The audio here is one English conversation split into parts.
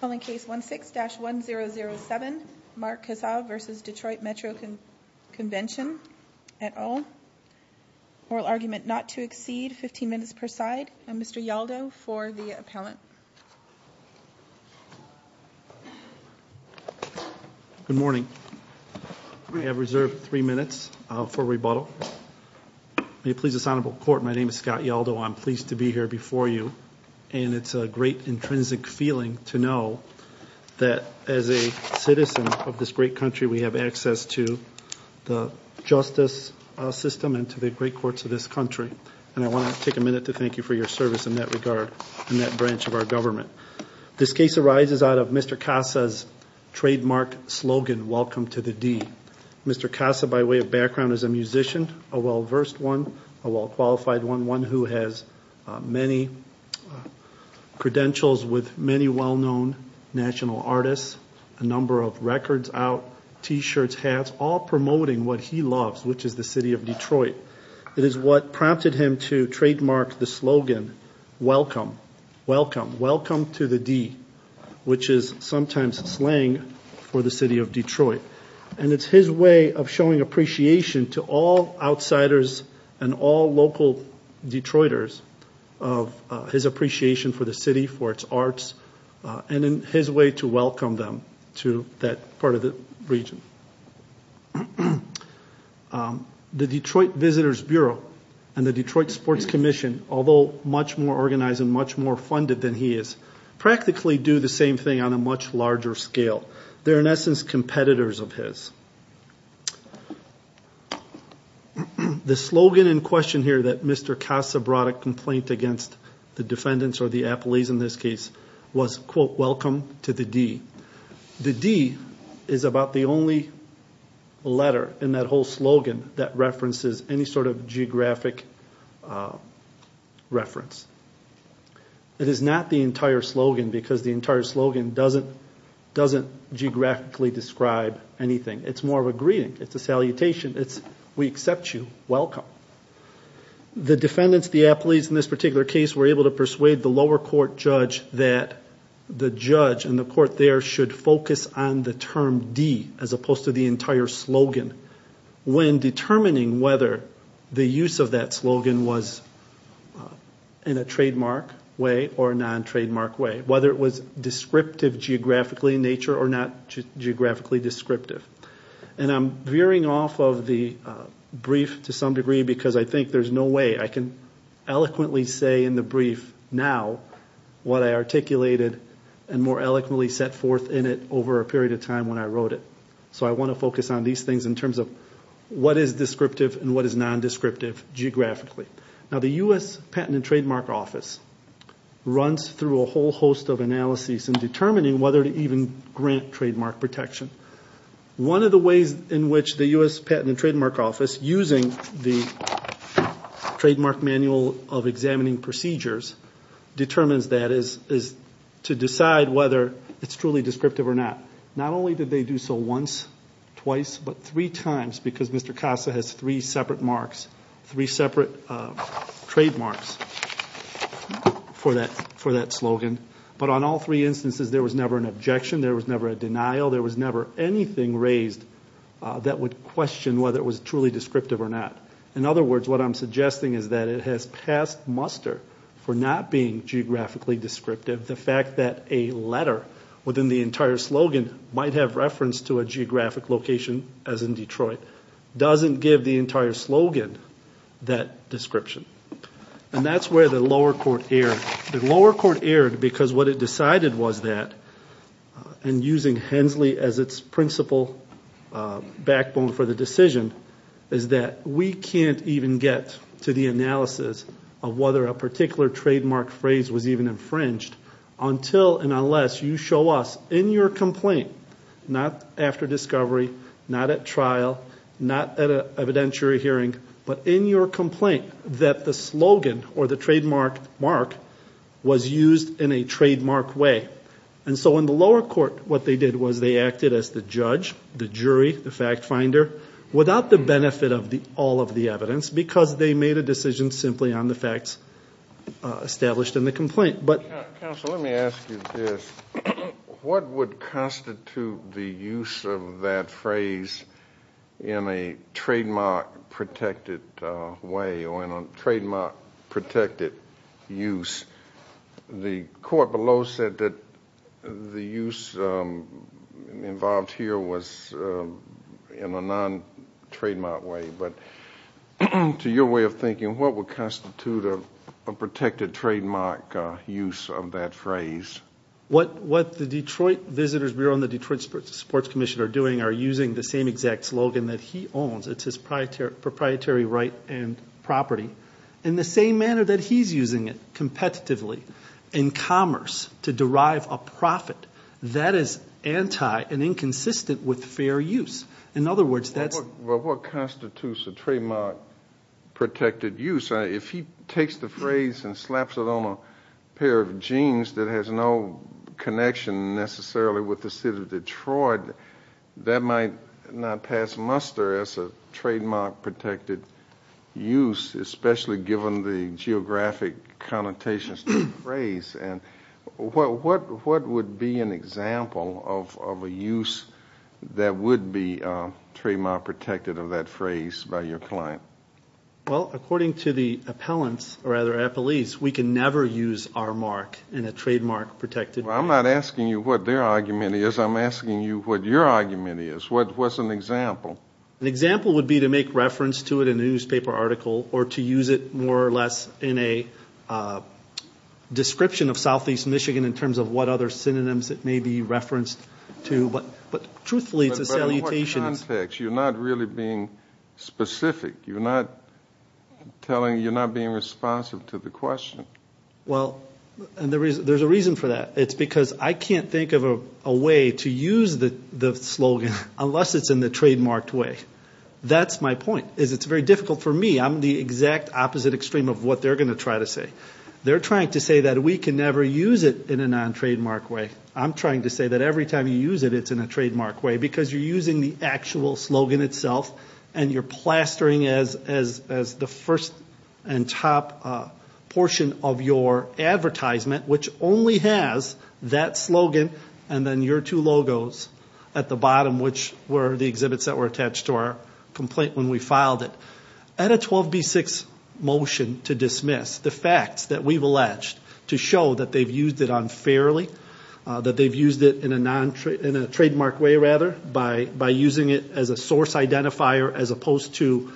Calling case 16-1007, Mark Kassa v. Detroit Metro Convention, et al. Oral argument not to exceed 15 minutes per side. Mr. Yaldo for the appellant. Good morning. I have reserved three minutes for rebuttal. May it please this Honorable Court, my name is Scott Yaldo. I'm pleased to be here before you. And it's a great intrinsic feeling to know that as a citizen of this great country we have access to the justice system and to the great courts of this country. And I want to take a minute to thank you for your service in that regard, in that branch of our government. This case arises out of Mr. Kassa's trademark slogan, Welcome to the D. Mr. Kassa, by way of background, is a musician, a well-versed one, a well-qualified one, one who has many credentials with many well-known national artists, a number of records out, t-shirts, hats, all promoting what he loves, which is the city of Detroit. It is what prompted him to trademark the slogan, Welcome, Welcome, Welcome to the D, which is sometimes slang for the city of Detroit. And it's his way of showing appreciation to all outsiders and all local Detroiters of his appreciation for the city, for its arts, and in his way to welcome them to that part of the region. The Detroit Visitors Bureau and the Detroit Sports Commission, although much more organized and much more funded than he is, practically do the same thing on a much larger scale. They're in essence competitors of his. The slogan in question here that Mr. Kassa brought a complaint against the defendants, or the appellees in this case, was, quote, Welcome to the D. The D is about the only letter in that whole slogan that references any sort of geographic reference. It is not the entire slogan, because the entire slogan doesn't geographically describe anything. It's more of a greeting. It's a salutation. It's, we accept you, welcome. The defendants, the appellees in this particular case, were able to persuade the lower court judge that the judge and the court there should focus on the term D, as opposed to the entire slogan. When determining whether the use of that slogan was in a trademark way or a non-trademark way, whether it was descriptive geographically in nature or not geographically descriptive. I'm veering off of the brief to some degree because I think there's no way I can eloquently say in the brief now what I articulated and more eloquently set forth in it over a period of time when I wrote it. So I want to focus on these things in terms of what is descriptive and what is non-descriptive geographically. Now the U.S. Patent and Trademark Office runs through a whole host of analyses in determining whether to even grant trademark protection. One of the ways in which the U.S. Patent and Trademark Office, using the Trademark Manual of Examining Procedures, determines that is to decide whether it's truly descriptive or not. Not only did they do so once, twice, but three times because Mr. Casa has three separate trademarks for that slogan. But on all three instances there was never an objection, there was never a denial, there was never anything raised that would question whether it was truly descriptive or not. In other words, what I'm suggesting is that it has passed muster for not being geographically descriptive. The fact that a letter within the entire slogan might have reference to a geographic location, as in Detroit, doesn't give the entire slogan that description. And that's where the lower court erred. The lower court erred because what it decided was that, and using Hensley as its principal backbone for the decision, is that we can't even get to the analysis of whether a particular trademark phrase was even infringed until and unless you show us in your complaint, not after discovery, not at trial, not at an evidentiary hearing, but in your complaint that the slogan or the trademark was used in a trademark way. And so in the lower court what they did was they acted as the judge, the jury, the fact finder, without the benefit of all of the evidence because they made a decision simply on the facts established in the complaint. Counsel, let me ask you this. What would constitute the use of that phrase in a trademark protected way or in a trademark protected use? The court below said that the use involved here was in a non-trademark way, but to your way of thinking, what would constitute a protected trademark use of that phrase? What the Detroit Visitors Bureau and the Detroit Sports Commission are doing are using the same exact slogan that he owns. It's his proprietary right and property, in the same manner that he's using it competitively in commerce to derive a profit. That is anti and inconsistent with fair use. In other words, that's Well, what constitutes a trademark protected use? If he takes the phrase and slaps it on a pair of jeans that has no connection necessarily with the city of Detroit, that might not pass muster as a trademark protected use, especially given the geographic connotations to the phrase. And what would be an example of a use that would be trademark protected of that phrase by your client? Well, according to the appellants, or rather appellees, we can never use our mark in a trademark protected way. I'm not asking you what their argument is. I'm asking you what your argument is. What's an example? An example would be to make reference to it in a newspaper article or to use it more or less in a description of southeast Michigan in terms of what other synonyms it may be referenced to. But truthfully, it's a salutation. But in what context? You're not really being specific. You're not being responsive to the question. Well, there's a reason for that. It's because I can't think of a way to use the slogan unless it's in the trademarked way. That's my point, is it's very difficult for me. I'm the exact opposite extreme of what they're going to try to say. They're trying to say that we can never use it in a non-trademarked way. I'm trying to say that every time you use it, it's in a trademarked way because you're using the actual slogan itself and you're plastering as the first and top portion of your advertisement, which only has that slogan and then your two logos at the bottom, which were the exhibits that were attached to our complaint when we filed it. At a 12B6 motion to dismiss the facts that we've alleged to show that they've used it unfairly, that they've used it in a trademarked way, rather, by using it as a source identifier as opposed to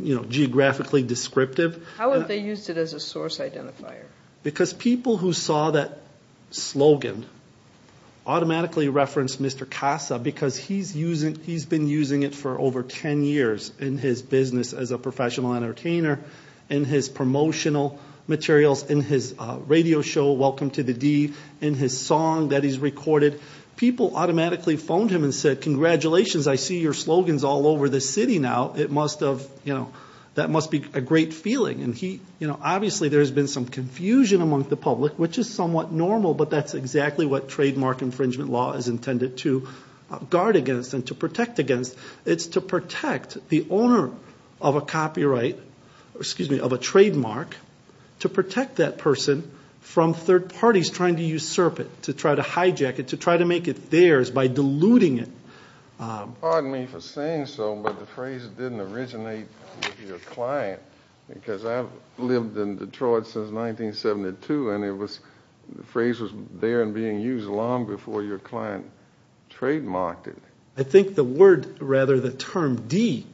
geographically descriptive. How have they used it as a source identifier? Because people who saw that slogan automatically referenced Mr. Casa because he's been using it for over 10 years in his business as a professional entertainer, in his promotional materials, in his radio show, Welcome to the D, in his song that he's recorded. People automatically phoned him and said, congratulations, I see your slogans all over the city now. That must be a great feeling. Obviously, there's been some confusion among the public, which is somewhat normal, but that's exactly what trademark infringement law is intended to guard against and to protect against. It's to protect the owner of a copyright, excuse me, of a trademark, to protect that person from third parties trying to usurp it, to try to hijack it, to try to make it theirs by diluting it. Pardon me for saying so, but the phrase didn't originate with your client, because I've lived in Detroit since 1972, and the phrase was there and being used long before your client trademarked it. I think the word, rather, the term D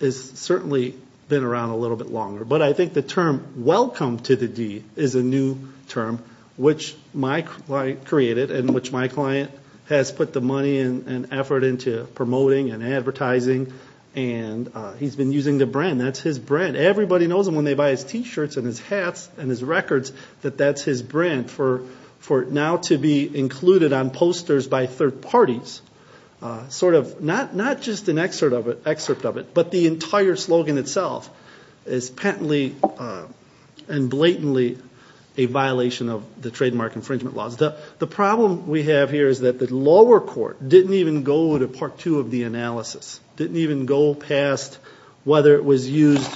has certainly been around a little bit longer, but I think the term Welcome to the D is a new term, which my client created, and which my client has put the money and effort into promoting and advertising, and he's been using the brand. That's his brand. Everybody knows him when they buy his T-shirts and his hats and his records, that that's his brand. For it now to be included on posters by third parties, not just an excerpt of it, but the entire slogan itself is patently and blatantly a violation of the trademark infringement laws. The problem we have here is that the lower court didn't even go to part two of the analysis, didn't even go past whether it was used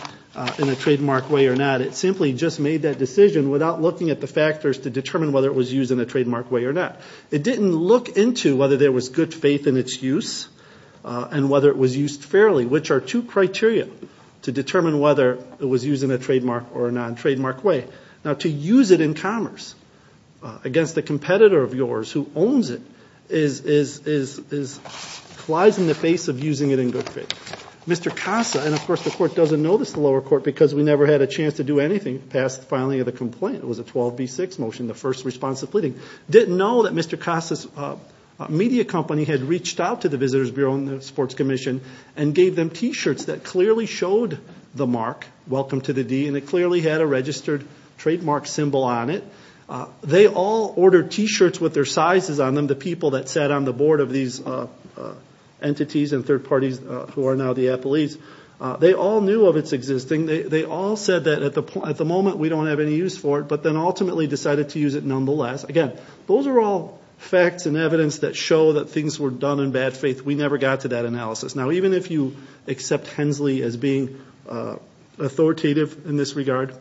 in a trademark way or not. It simply just made that decision without looking at the factors to determine whether it was used in a trademark way or not. It didn't look into whether there was good faith in its use and whether it was used fairly, which are two criteria to determine whether it was used in a trademark or a non-trademark way. Now, to use it in commerce against a competitor of yours who owns it collides in the face of using it in good faith. Mr. Casa, and of course the court doesn't know this, the lower court, because we never had a chance to do anything past the filing of the complaint. It was a 12B6 motion, the first responsive pleading. Didn't know that Mr. Casa's media company had reached out to the Visitors Bureau and the Sports Commission and gave them T-shirts that clearly showed the mark, welcome to the D, and it clearly had a registered trademark symbol on it. They all ordered T-shirts with their sizes on them, the people that sat on the board of these entities and third parties who are now the appellees. They all knew of its existing. They all said that at the moment we don't have any use for it, but then ultimately decided to use it nonetheless. Again, those are all facts and evidence that show that things were done in bad faith. We never got to that analysis. Now, even if you accept Hensley as being authoritative in this regard,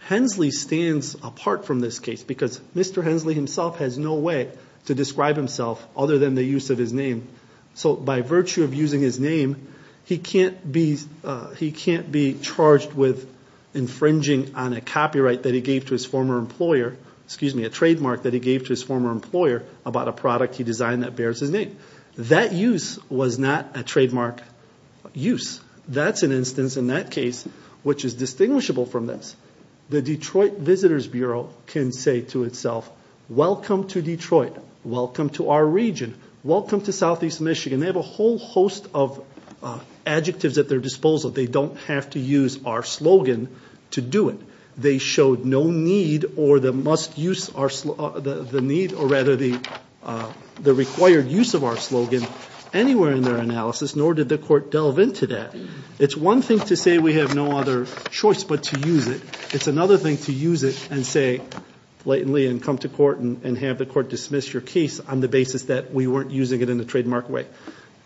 Hensley stands apart from this case because Mr. Hensley himself has no way to describe himself other than the use of his name. So by virtue of using his name, he can't be charged with infringing on a copyright that he gave to his former employer, excuse me, a trademark that he gave to his former employer about a product he designed that bears his name. That use was not a trademark use. That's an instance in that case which is distinguishable from this. The Detroit Visitors Bureau can say to itself, welcome to Detroit, welcome to our region, welcome to southeast Michigan. They have a whole host of adjectives at their disposal. They don't have to use our slogan to do it. They showed no need or the must use the need or rather the required use of our slogan anywhere in their analysis, nor did the court delve into that. It's one thing to say we have no other choice but to use it. It's another thing to use it and say blatantly and come to court and have the court dismiss your case on the basis that we weren't using it in a trademark way.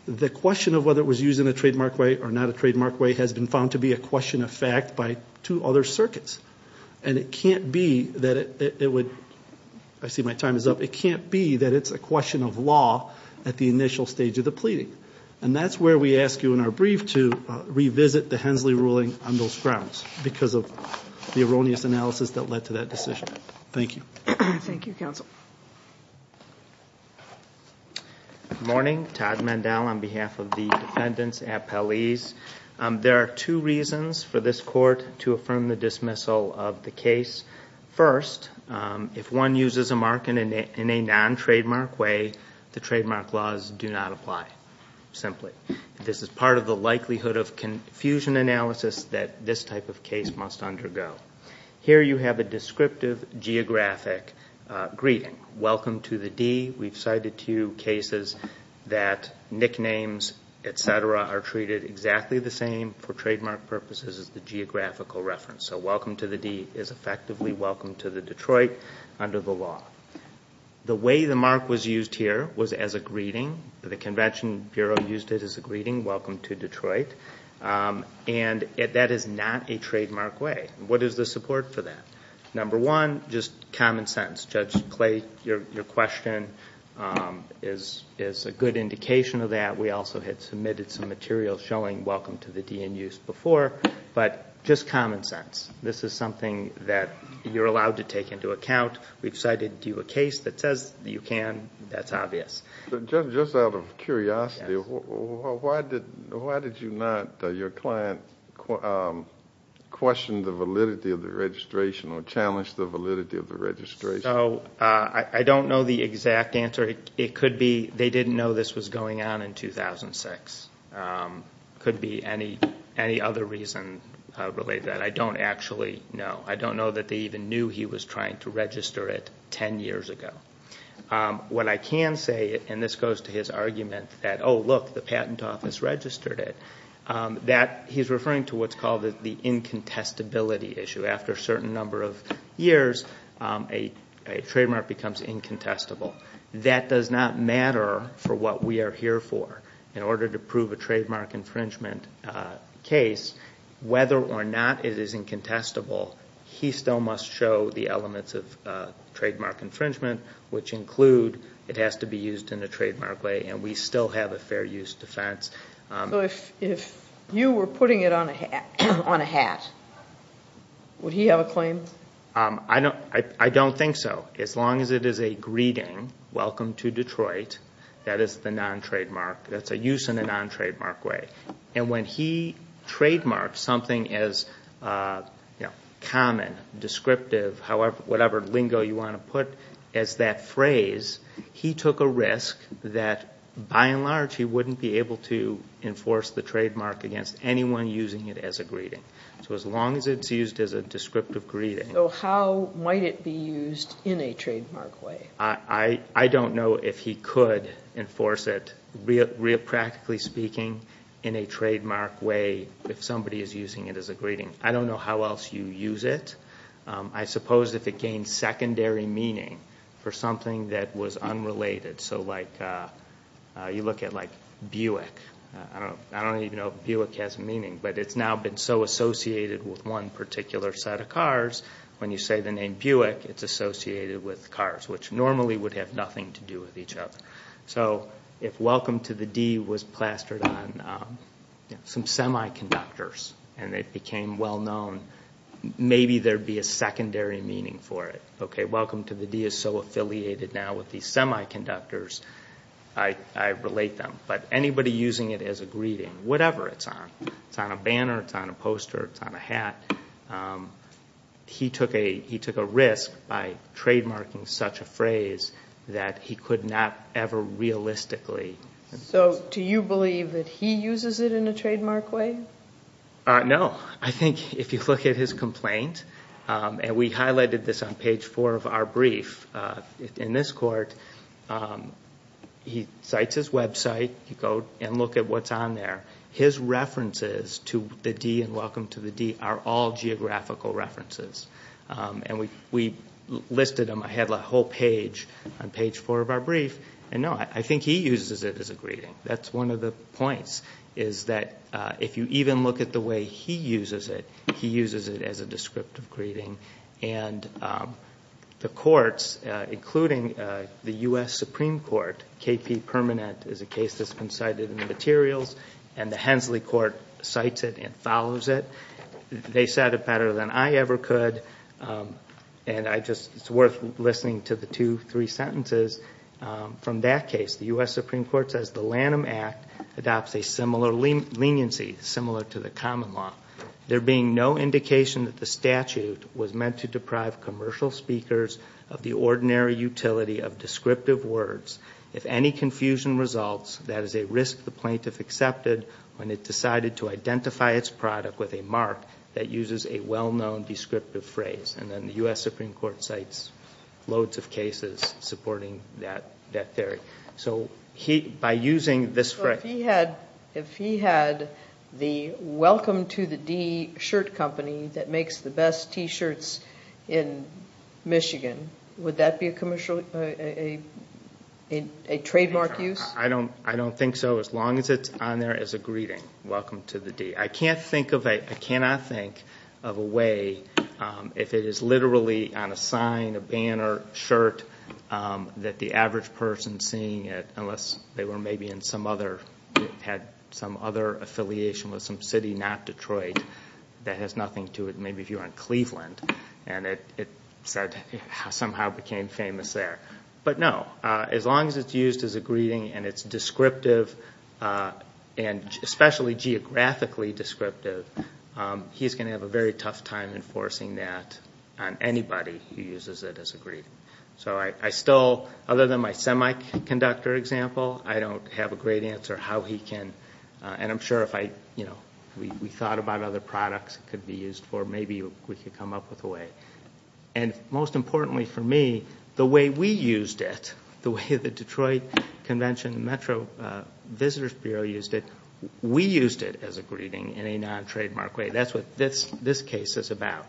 The question of whether it was used in a trademark way or not a trademark way has been found to be a question of fact by two other circuits. And it can't be that it would, I see my time is up, it can't be that it's a question of law at the initial stage of the pleading. And that's where we ask you in our brief to revisit the Hensley ruling on those grounds because of the erroneous analysis that led to that decision. Thank you. Thank you, counsel. Good morning. Todd Mandel on behalf of the defendants appellees. There are two reasons for this court to affirm the dismissal of the case. First, if one uses a mark in a non-trademark way, the trademark laws do not apply simply. This is part of the likelihood of confusion analysis that this type of case must undergo. Here you have a descriptive geographic greeting. Welcome to the D. We've cited to you cases that nicknames, et cetera, are treated exactly the same for trademark purposes as the geographical reference. So welcome to the D is effectively welcome to the Detroit under the law. The way the mark was used here was as a greeting. The Convention Bureau used it as a greeting, welcome to Detroit. And that is not a trademark way. What is the support for that? Number one, just common sense. Judge Clay, your question is a good indication of that. We also had submitted some material showing welcome to the D in use before. But just common sense. This is something that you're allowed to take into account. We've cited to you a case that says you can. That's obvious. Just out of curiosity, why did your client question the validity of the registration or challenge the validity of the registration? I don't know the exact answer. It could be they didn't know this was going on in 2006. It could be any other reason related to that. I don't actually know. I don't know that they even knew he was trying to register it ten years ago. What I can say, and this goes to his argument that, oh, look, the Patent Office registered it, that he's referring to what's called the incontestability issue. After a certain number of years, a trademark becomes incontestable. That does not matter for what we are here for. In order to prove a trademark infringement case, whether or not it is incontestable, he still must show the elements of trademark infringement, which include it has to be used in a trademark way, and we still have a fair use defense. If you were putting it on a hat, would he have a claim? I don't think so. As long as it is a greeting, welcome to Detroit, that is the non-trademark. That's a use in a non-trademark way. And when he trademarks something as common, descriptive, whatever lingo you want to put as that phrase, he took a risk that, by and large, he wouldn't be able to enforce the trademark against anyone using it as a greeting. So as long as it's used as a descriptive greeting. So how might it be used in a trademark way? I don't know if he could enforce it, practically speaking, in a trademark way if somebody is using it as a greeting. I don't know how else you use it. I suppose if it gained secondary meaning for something that was unrelated. So you look at Buick. I don't even know if Buick has a meaning, but it's now been so associated with one particular set of cars, when you say the name Buick, it's associated with cars, which normally would have nothing to do with each other. So if welcome to the D was plastered on some semiconductors and it became well-known, maybe there would be a secondary meaning for it. Okay, welcome to the D is so affiliated now with these semiconductors, I relate them. But anybody using it as a greeting, whatever it's on, it's on a banner, it's on a poster, it's on a hat, he took a risk by trademarking such a phrase that he could not ever realistically enforce. So do you believe that he uses it in a trademark way? No. I think if you look at his complaint, and we highlighted this on page four of our brief, in this court he cites his website, you go and look at what's on there. His references to the D and welcome to the D are all geographical references. And we listed them. I have a whole page on page four of our brief, and no, I think he uses it as a greeting. That's one of the points, is that if you even look at the way he uses it, he uses it as a descriptive greeting. And the courts, including the U.S. Supreme Court, KP Permanent is a case that's been cited in the materials, and the Hensley Court cites it and follows it. They said it better than I ever could, and it's worth listening to the two, three sentences from that case. The U.S. Supreme Court says the Lanham Act adopts a similar leniency, similar to the common law, there being no indication that the statute was meant to deprive commercial speakers of the ordinary utility of descriptive words. If any confusion results, that is a risk the plaintiff accepted when it decided to identify its product with a mark that uses a well-known descriptive phrase. And then the U.S. Supreme Court cites loads of cases supporting that theory. By using this phrase... If he had the Welcome to the D shirt company that makes the best T-shirts in Michigan, would that be a trademark use? I don't think so, as long as it's on there as a greeting, Welcome to the D. I cannot think of a way, if it is literally on a sign, a banner, shirt, that the average person seeing it, unless they had some other affiliation with some city, not Detroit, that has nothing to it, maybe if you're in Cleveland, and it somehow became famous there. But no, as long as it's used as a greeting and it's descriptive, and especially geographically descriptive, he's going to have a very tough time enforcing that on anybody who uses it as a greeting. So I still, other than my semiconductor example, I don't have a great answer how he can... And I'm sure if we thought about other products it could be used for, maybe we could come up with a way. And most importantly for me, the way we used it, the way the Detroit Convention Metro Visitors Bureau used it, we used it as a greeting in a non-trademark way. That's what this case is about.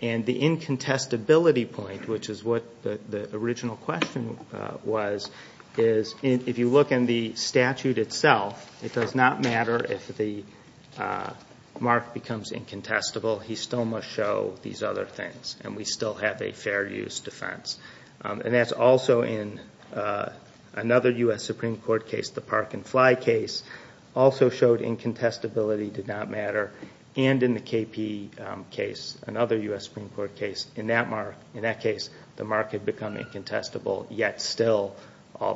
And the incontestability point, which is what the original question was, is if you look in the statute itself, it does not matter if the mark becomes incontestable, he still must show these other things, and we still have a fair use defense. And that's also in another U.S. Supreme Court case, the Park and Fly case, also showed incontestability did not matter. And in the KP case, another U.S. Supreme Court case, in that case the mark had become incontestable, yet still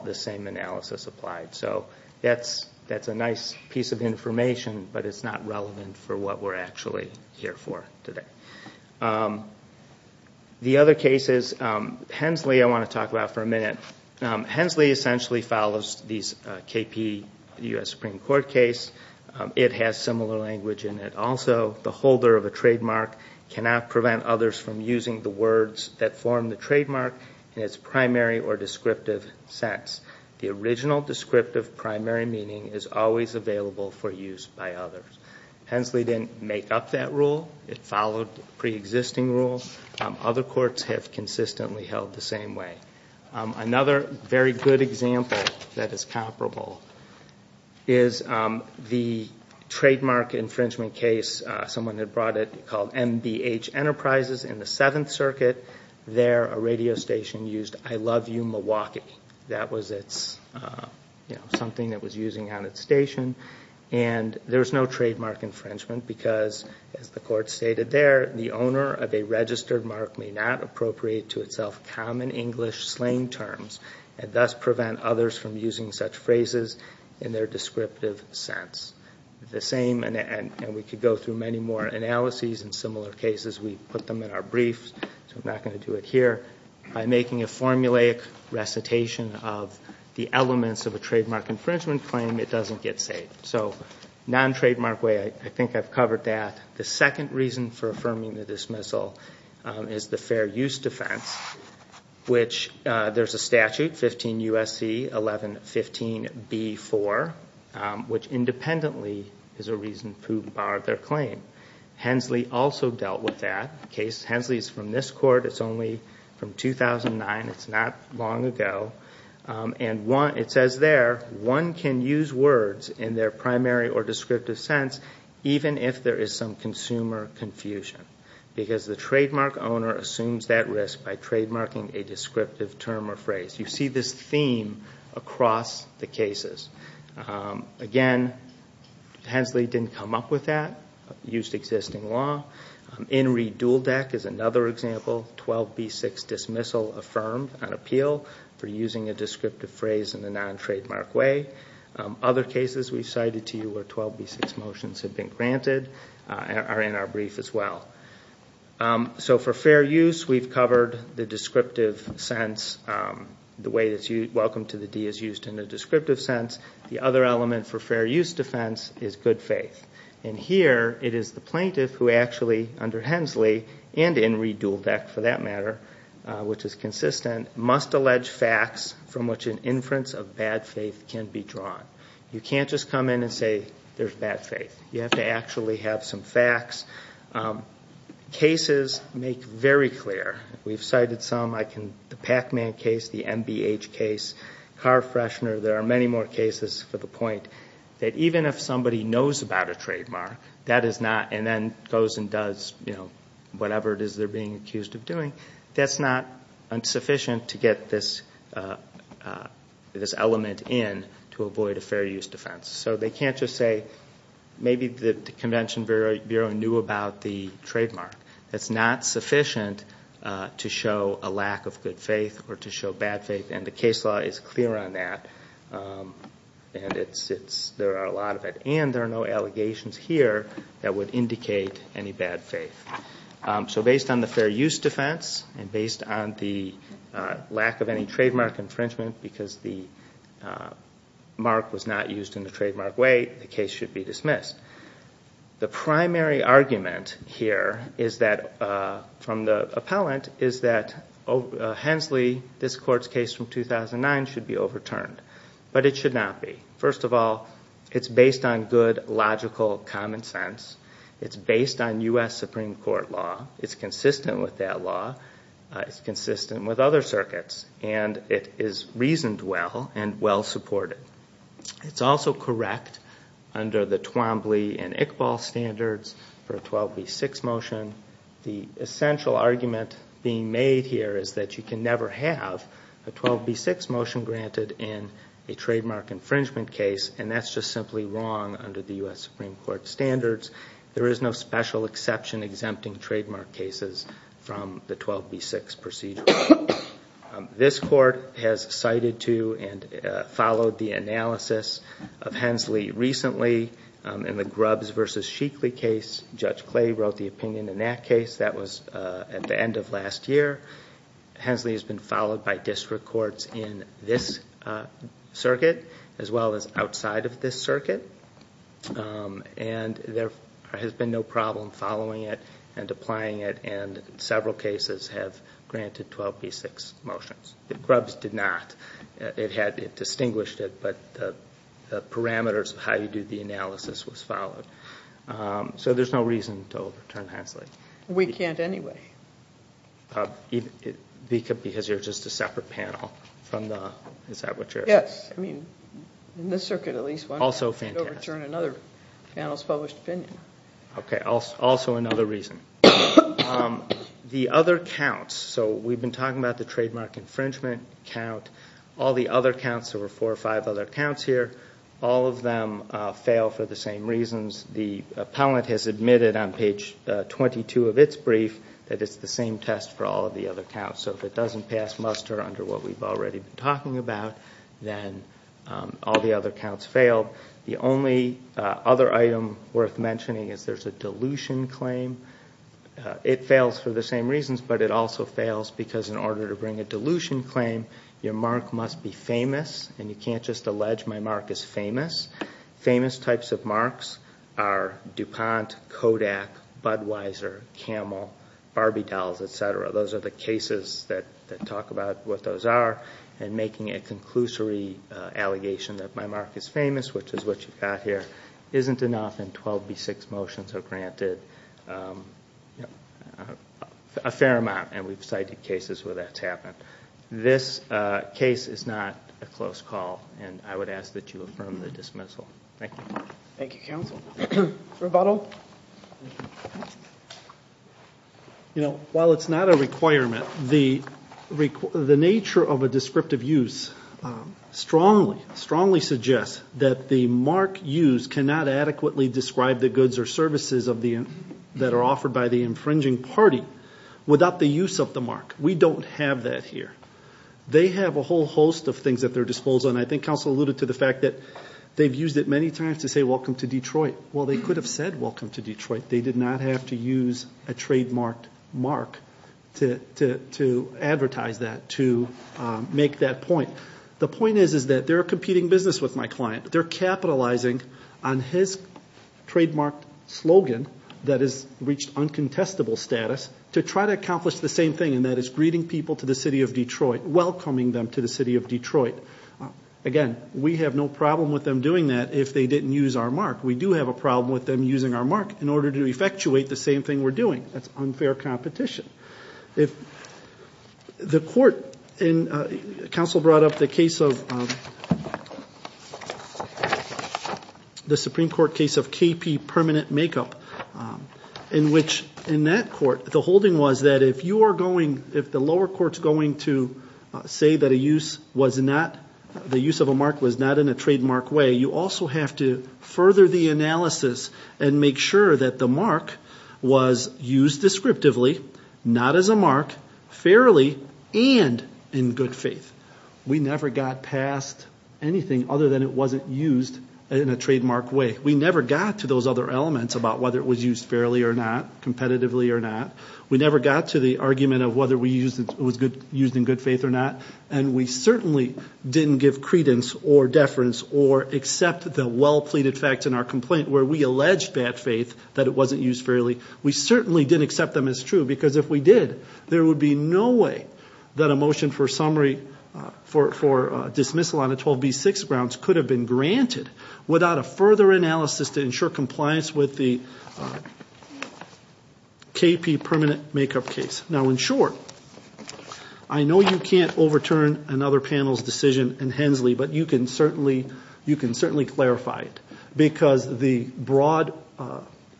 the same analysis applied. So that's a nice piece of information, but it's not relevant for what we're actually here for today. The other cases, Hensley I want to talk about for a minute. Hensley essentially follows these KP U.S. Supreme Court case. It has similar language in it. Also, the holder of a trademark cannot prevent others from using the words that form the trademark in its primary or descriptive sense. The original descriptive primary meaning is always available for use by others. Hensley didn't make up that rule. It followed preexisting rules. Other courts have consistently held the same way. Another very good example that is comparable is the trademark infringement case, someone had brought it called MBH Enterprises in the Seventh Circuit. There, a radio station used, I love you Milwaukee. That was something that was using on its station. And there's no trademark infringement because, as the court stated there, the owner of a registered mark may not appropriate to itself common English slang terms and thus prevent others from using such phrases in their descriptive sense. The same, and we could go through many more analyses in similar cases. We put them in our briefs, so I'm not going to do it here. By making a formulaic recitation of the elements of a trademark infringement claim, it doesn't get saved. So non-trademark way, I think I've covered that. The second reason for affirming the dismissal is the fair use defense, which there's a statute, 15 U.S.C. 1115b4, which independently is a reason to bar their claim. Hensley also dealt with that. Hensley is from this court. It's only from 2009. It's not long ago. And it says there one can use words in their primary or descriptive sense even if there is some consumer confusion because the trademark owner assumes that risk by trademarking a descriptive term or phrase. You see this theme across the cases. Again, Hensley didn't come up with that. He used existing law. In re dual deck is another example, 12b6 dismissal affirmed on appeal for using a descriptive phrase in a non-trademark way. Other cases we've cited to you where 12b6 motions have been granted are in our brief as well. So for fair use, we've covered the descriptive sense, the way that welcome to the D is used in a descriptive sense. The other element for fair use defense is good faith. And here it is the plaintiff who actually under Hensley and in re dual deck for that matter, which is consistent, must allege facts from which an inference of bad faith can be drawn. You can't just come in and say there's bad faith. You have to actually have some facts. Cases make very clear. We've cited some. The Pac-Man case, the MBH case, Carfreshner. There are many more cases for the point that even if somebody knows about a trademark and then goes and does whatever it is they're being accused of doing, that's not sufficient to get this element in to avoid a fair use defense. So they can't just say maybe the convention bureau knew about the trademark. That's not sufficient to show a lack of good faith or to show bad faith. And the case law is clear on that. And there are a lot of it. And there are no allegations here that would indicate any bad faith. So based on the fair use defense and based on the lack of any trademark infringement because the mark was not used in the trademark way, the case should be dismissed. The primary argument here from the appellant is that Hensley, this court's case from 2009, should be overturned. But it should not be. First of all, it's based on good, logical common sense. It's based on U.S. Supreme Court law. It's consistent with that law. It's consistent with other circuits. And it is reasoned well and well supported. It's also correct under the Twombly and Iqbal standards for a 12B6 motion. The essential argument being made here is that you can never have a 12B6 motion granted in a trademark infringement case. And that's just simply wrong under the U.S. Supreme Court standards. There is no special exception exempting trademark cases from the 12B6 procedure. This court has cited to and followed the analysis of Hensley recently in the Grubbs v. Sheekley case. Judge Clay wrote the opinion in that case. That was at the end of last year. Hensley has been followed by district courts in this circuit as well as outside of this circuit. And there has been no problem following it and applying it. And several cases have granted 12B6 motions. The Grubbs did not. It had distinguished it, but the parameters of how you do the analysis was followed. So there's no reason to overturn Hensley. We can't anyway. Because you're just a separate panel from the – is that what you're – Yes. I mean, in this circuit at least one can't overturn another panel's published opinion. Okay. Also another reason. The other counts. So we've been talking about the trademark infringement count. All the other counts, there were four or five other counts here. All of them fail for the same reasons. The appellant has admitted on page 22 of its brief that it's the same test for all of the other counts. So if it doesn't pass muster under what we've already been talking about, then all the other counts fail. The only other item worth mentioning is there's a dilution claim. It fails for the same reasons, but it also fails because in order to bring a dilution claim, your mark must be famous, and you can't just allege my mark is famous. Famous types of marks are DuPont, Kodak, Budweiser, Camel, Barbie dolls, et cetera. Those are the cases that talk about what those are, and making a conclusory allegation that my mark is famous, which is what you've got here, isn't enough, and 12B6 motions are granted a fair amount, and we've cited cases where that's happened. This case is not a close call, and I would ask that you affirm the dismissal. Thank you. Thank you, counsel. Rebuttal? Well, you know, while it's not a requirement, the nature of a descriptive use strongly suggests that the mark used cannot adequately describe the goods or services that are offered by the infringing party without the use of the mark. We don't have that here. They have a whole host of things at their disposal, and I think counsel alluded to the fact that they've used it many times to say welcome to Detroit. Well, they could have said welcome to Detroit. They did not have to use a trademarked mark to advertise that, to make that point. The point is that they're a competing business with my client. They're capitalizing on his trademarked slogan that has reached uncontestable status to try to accomplish the same thing, and that is greeting people to the city of Detroit, welcoming them to the city of Detroit. Again, we have no problem with them doing that if they didn't use our mark. We do have a problem with them using our mark in order to effectuate the same thing we're doing. That's unfair competition. If the court, and counsel brought up the case of the Supreme Court case of KP Permanent Makeup, in which in that court the holding was that if you are going, if the lower court's going to say that a use was not, the use of a mark was not in a trademark way, you also have to further the analysis and make sure that the mark was used descriptively, not as a mark, fairly, and in good faith. We never got past anything other than it wasn't used in a trademark way. We never got to those other elements about whether it was used fairly or not, competitively or not. We never got to the argument of whether it was used in good faith or not, and we certainly didn't give credence or deference or accept the well-pleaded facts in our complaint where we alleged bad faith, that it wasn't used fairly. We certainly didn't accept them as true because if we did, there would be no way that a motion for summary, for dismissal on the 12B6 grounds could have been granted without a further analysis to ensure compliance with the KP Permanent Makeup case. Now, in short, I know you can't overturn another panel's decision in Hensley, but you can certainly clarify it because the broad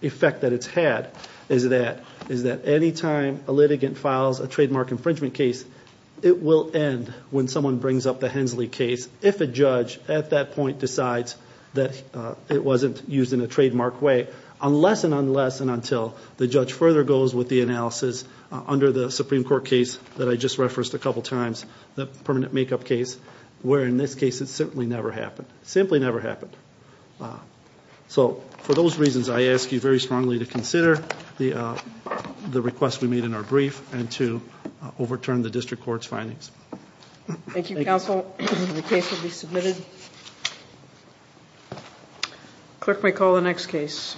effect that it's had is that any time a litigant files a trademark infringement case, it will end when someone brings up the Hensley case if a judge at that point decides that it wasn't used in a trademark way, unless and unless and until the judge further goes with the analysis under the Supreme Court case that I just referenced a couple times, the Permanent Makeup case, where in this case it simply never happened. Simply never happened. So for those reasons, I ask you very strongly to consider the request we made in our brief and to overturn the district court's findings. Thank you, counsel. The case will be submitted. Clerk may call the next case.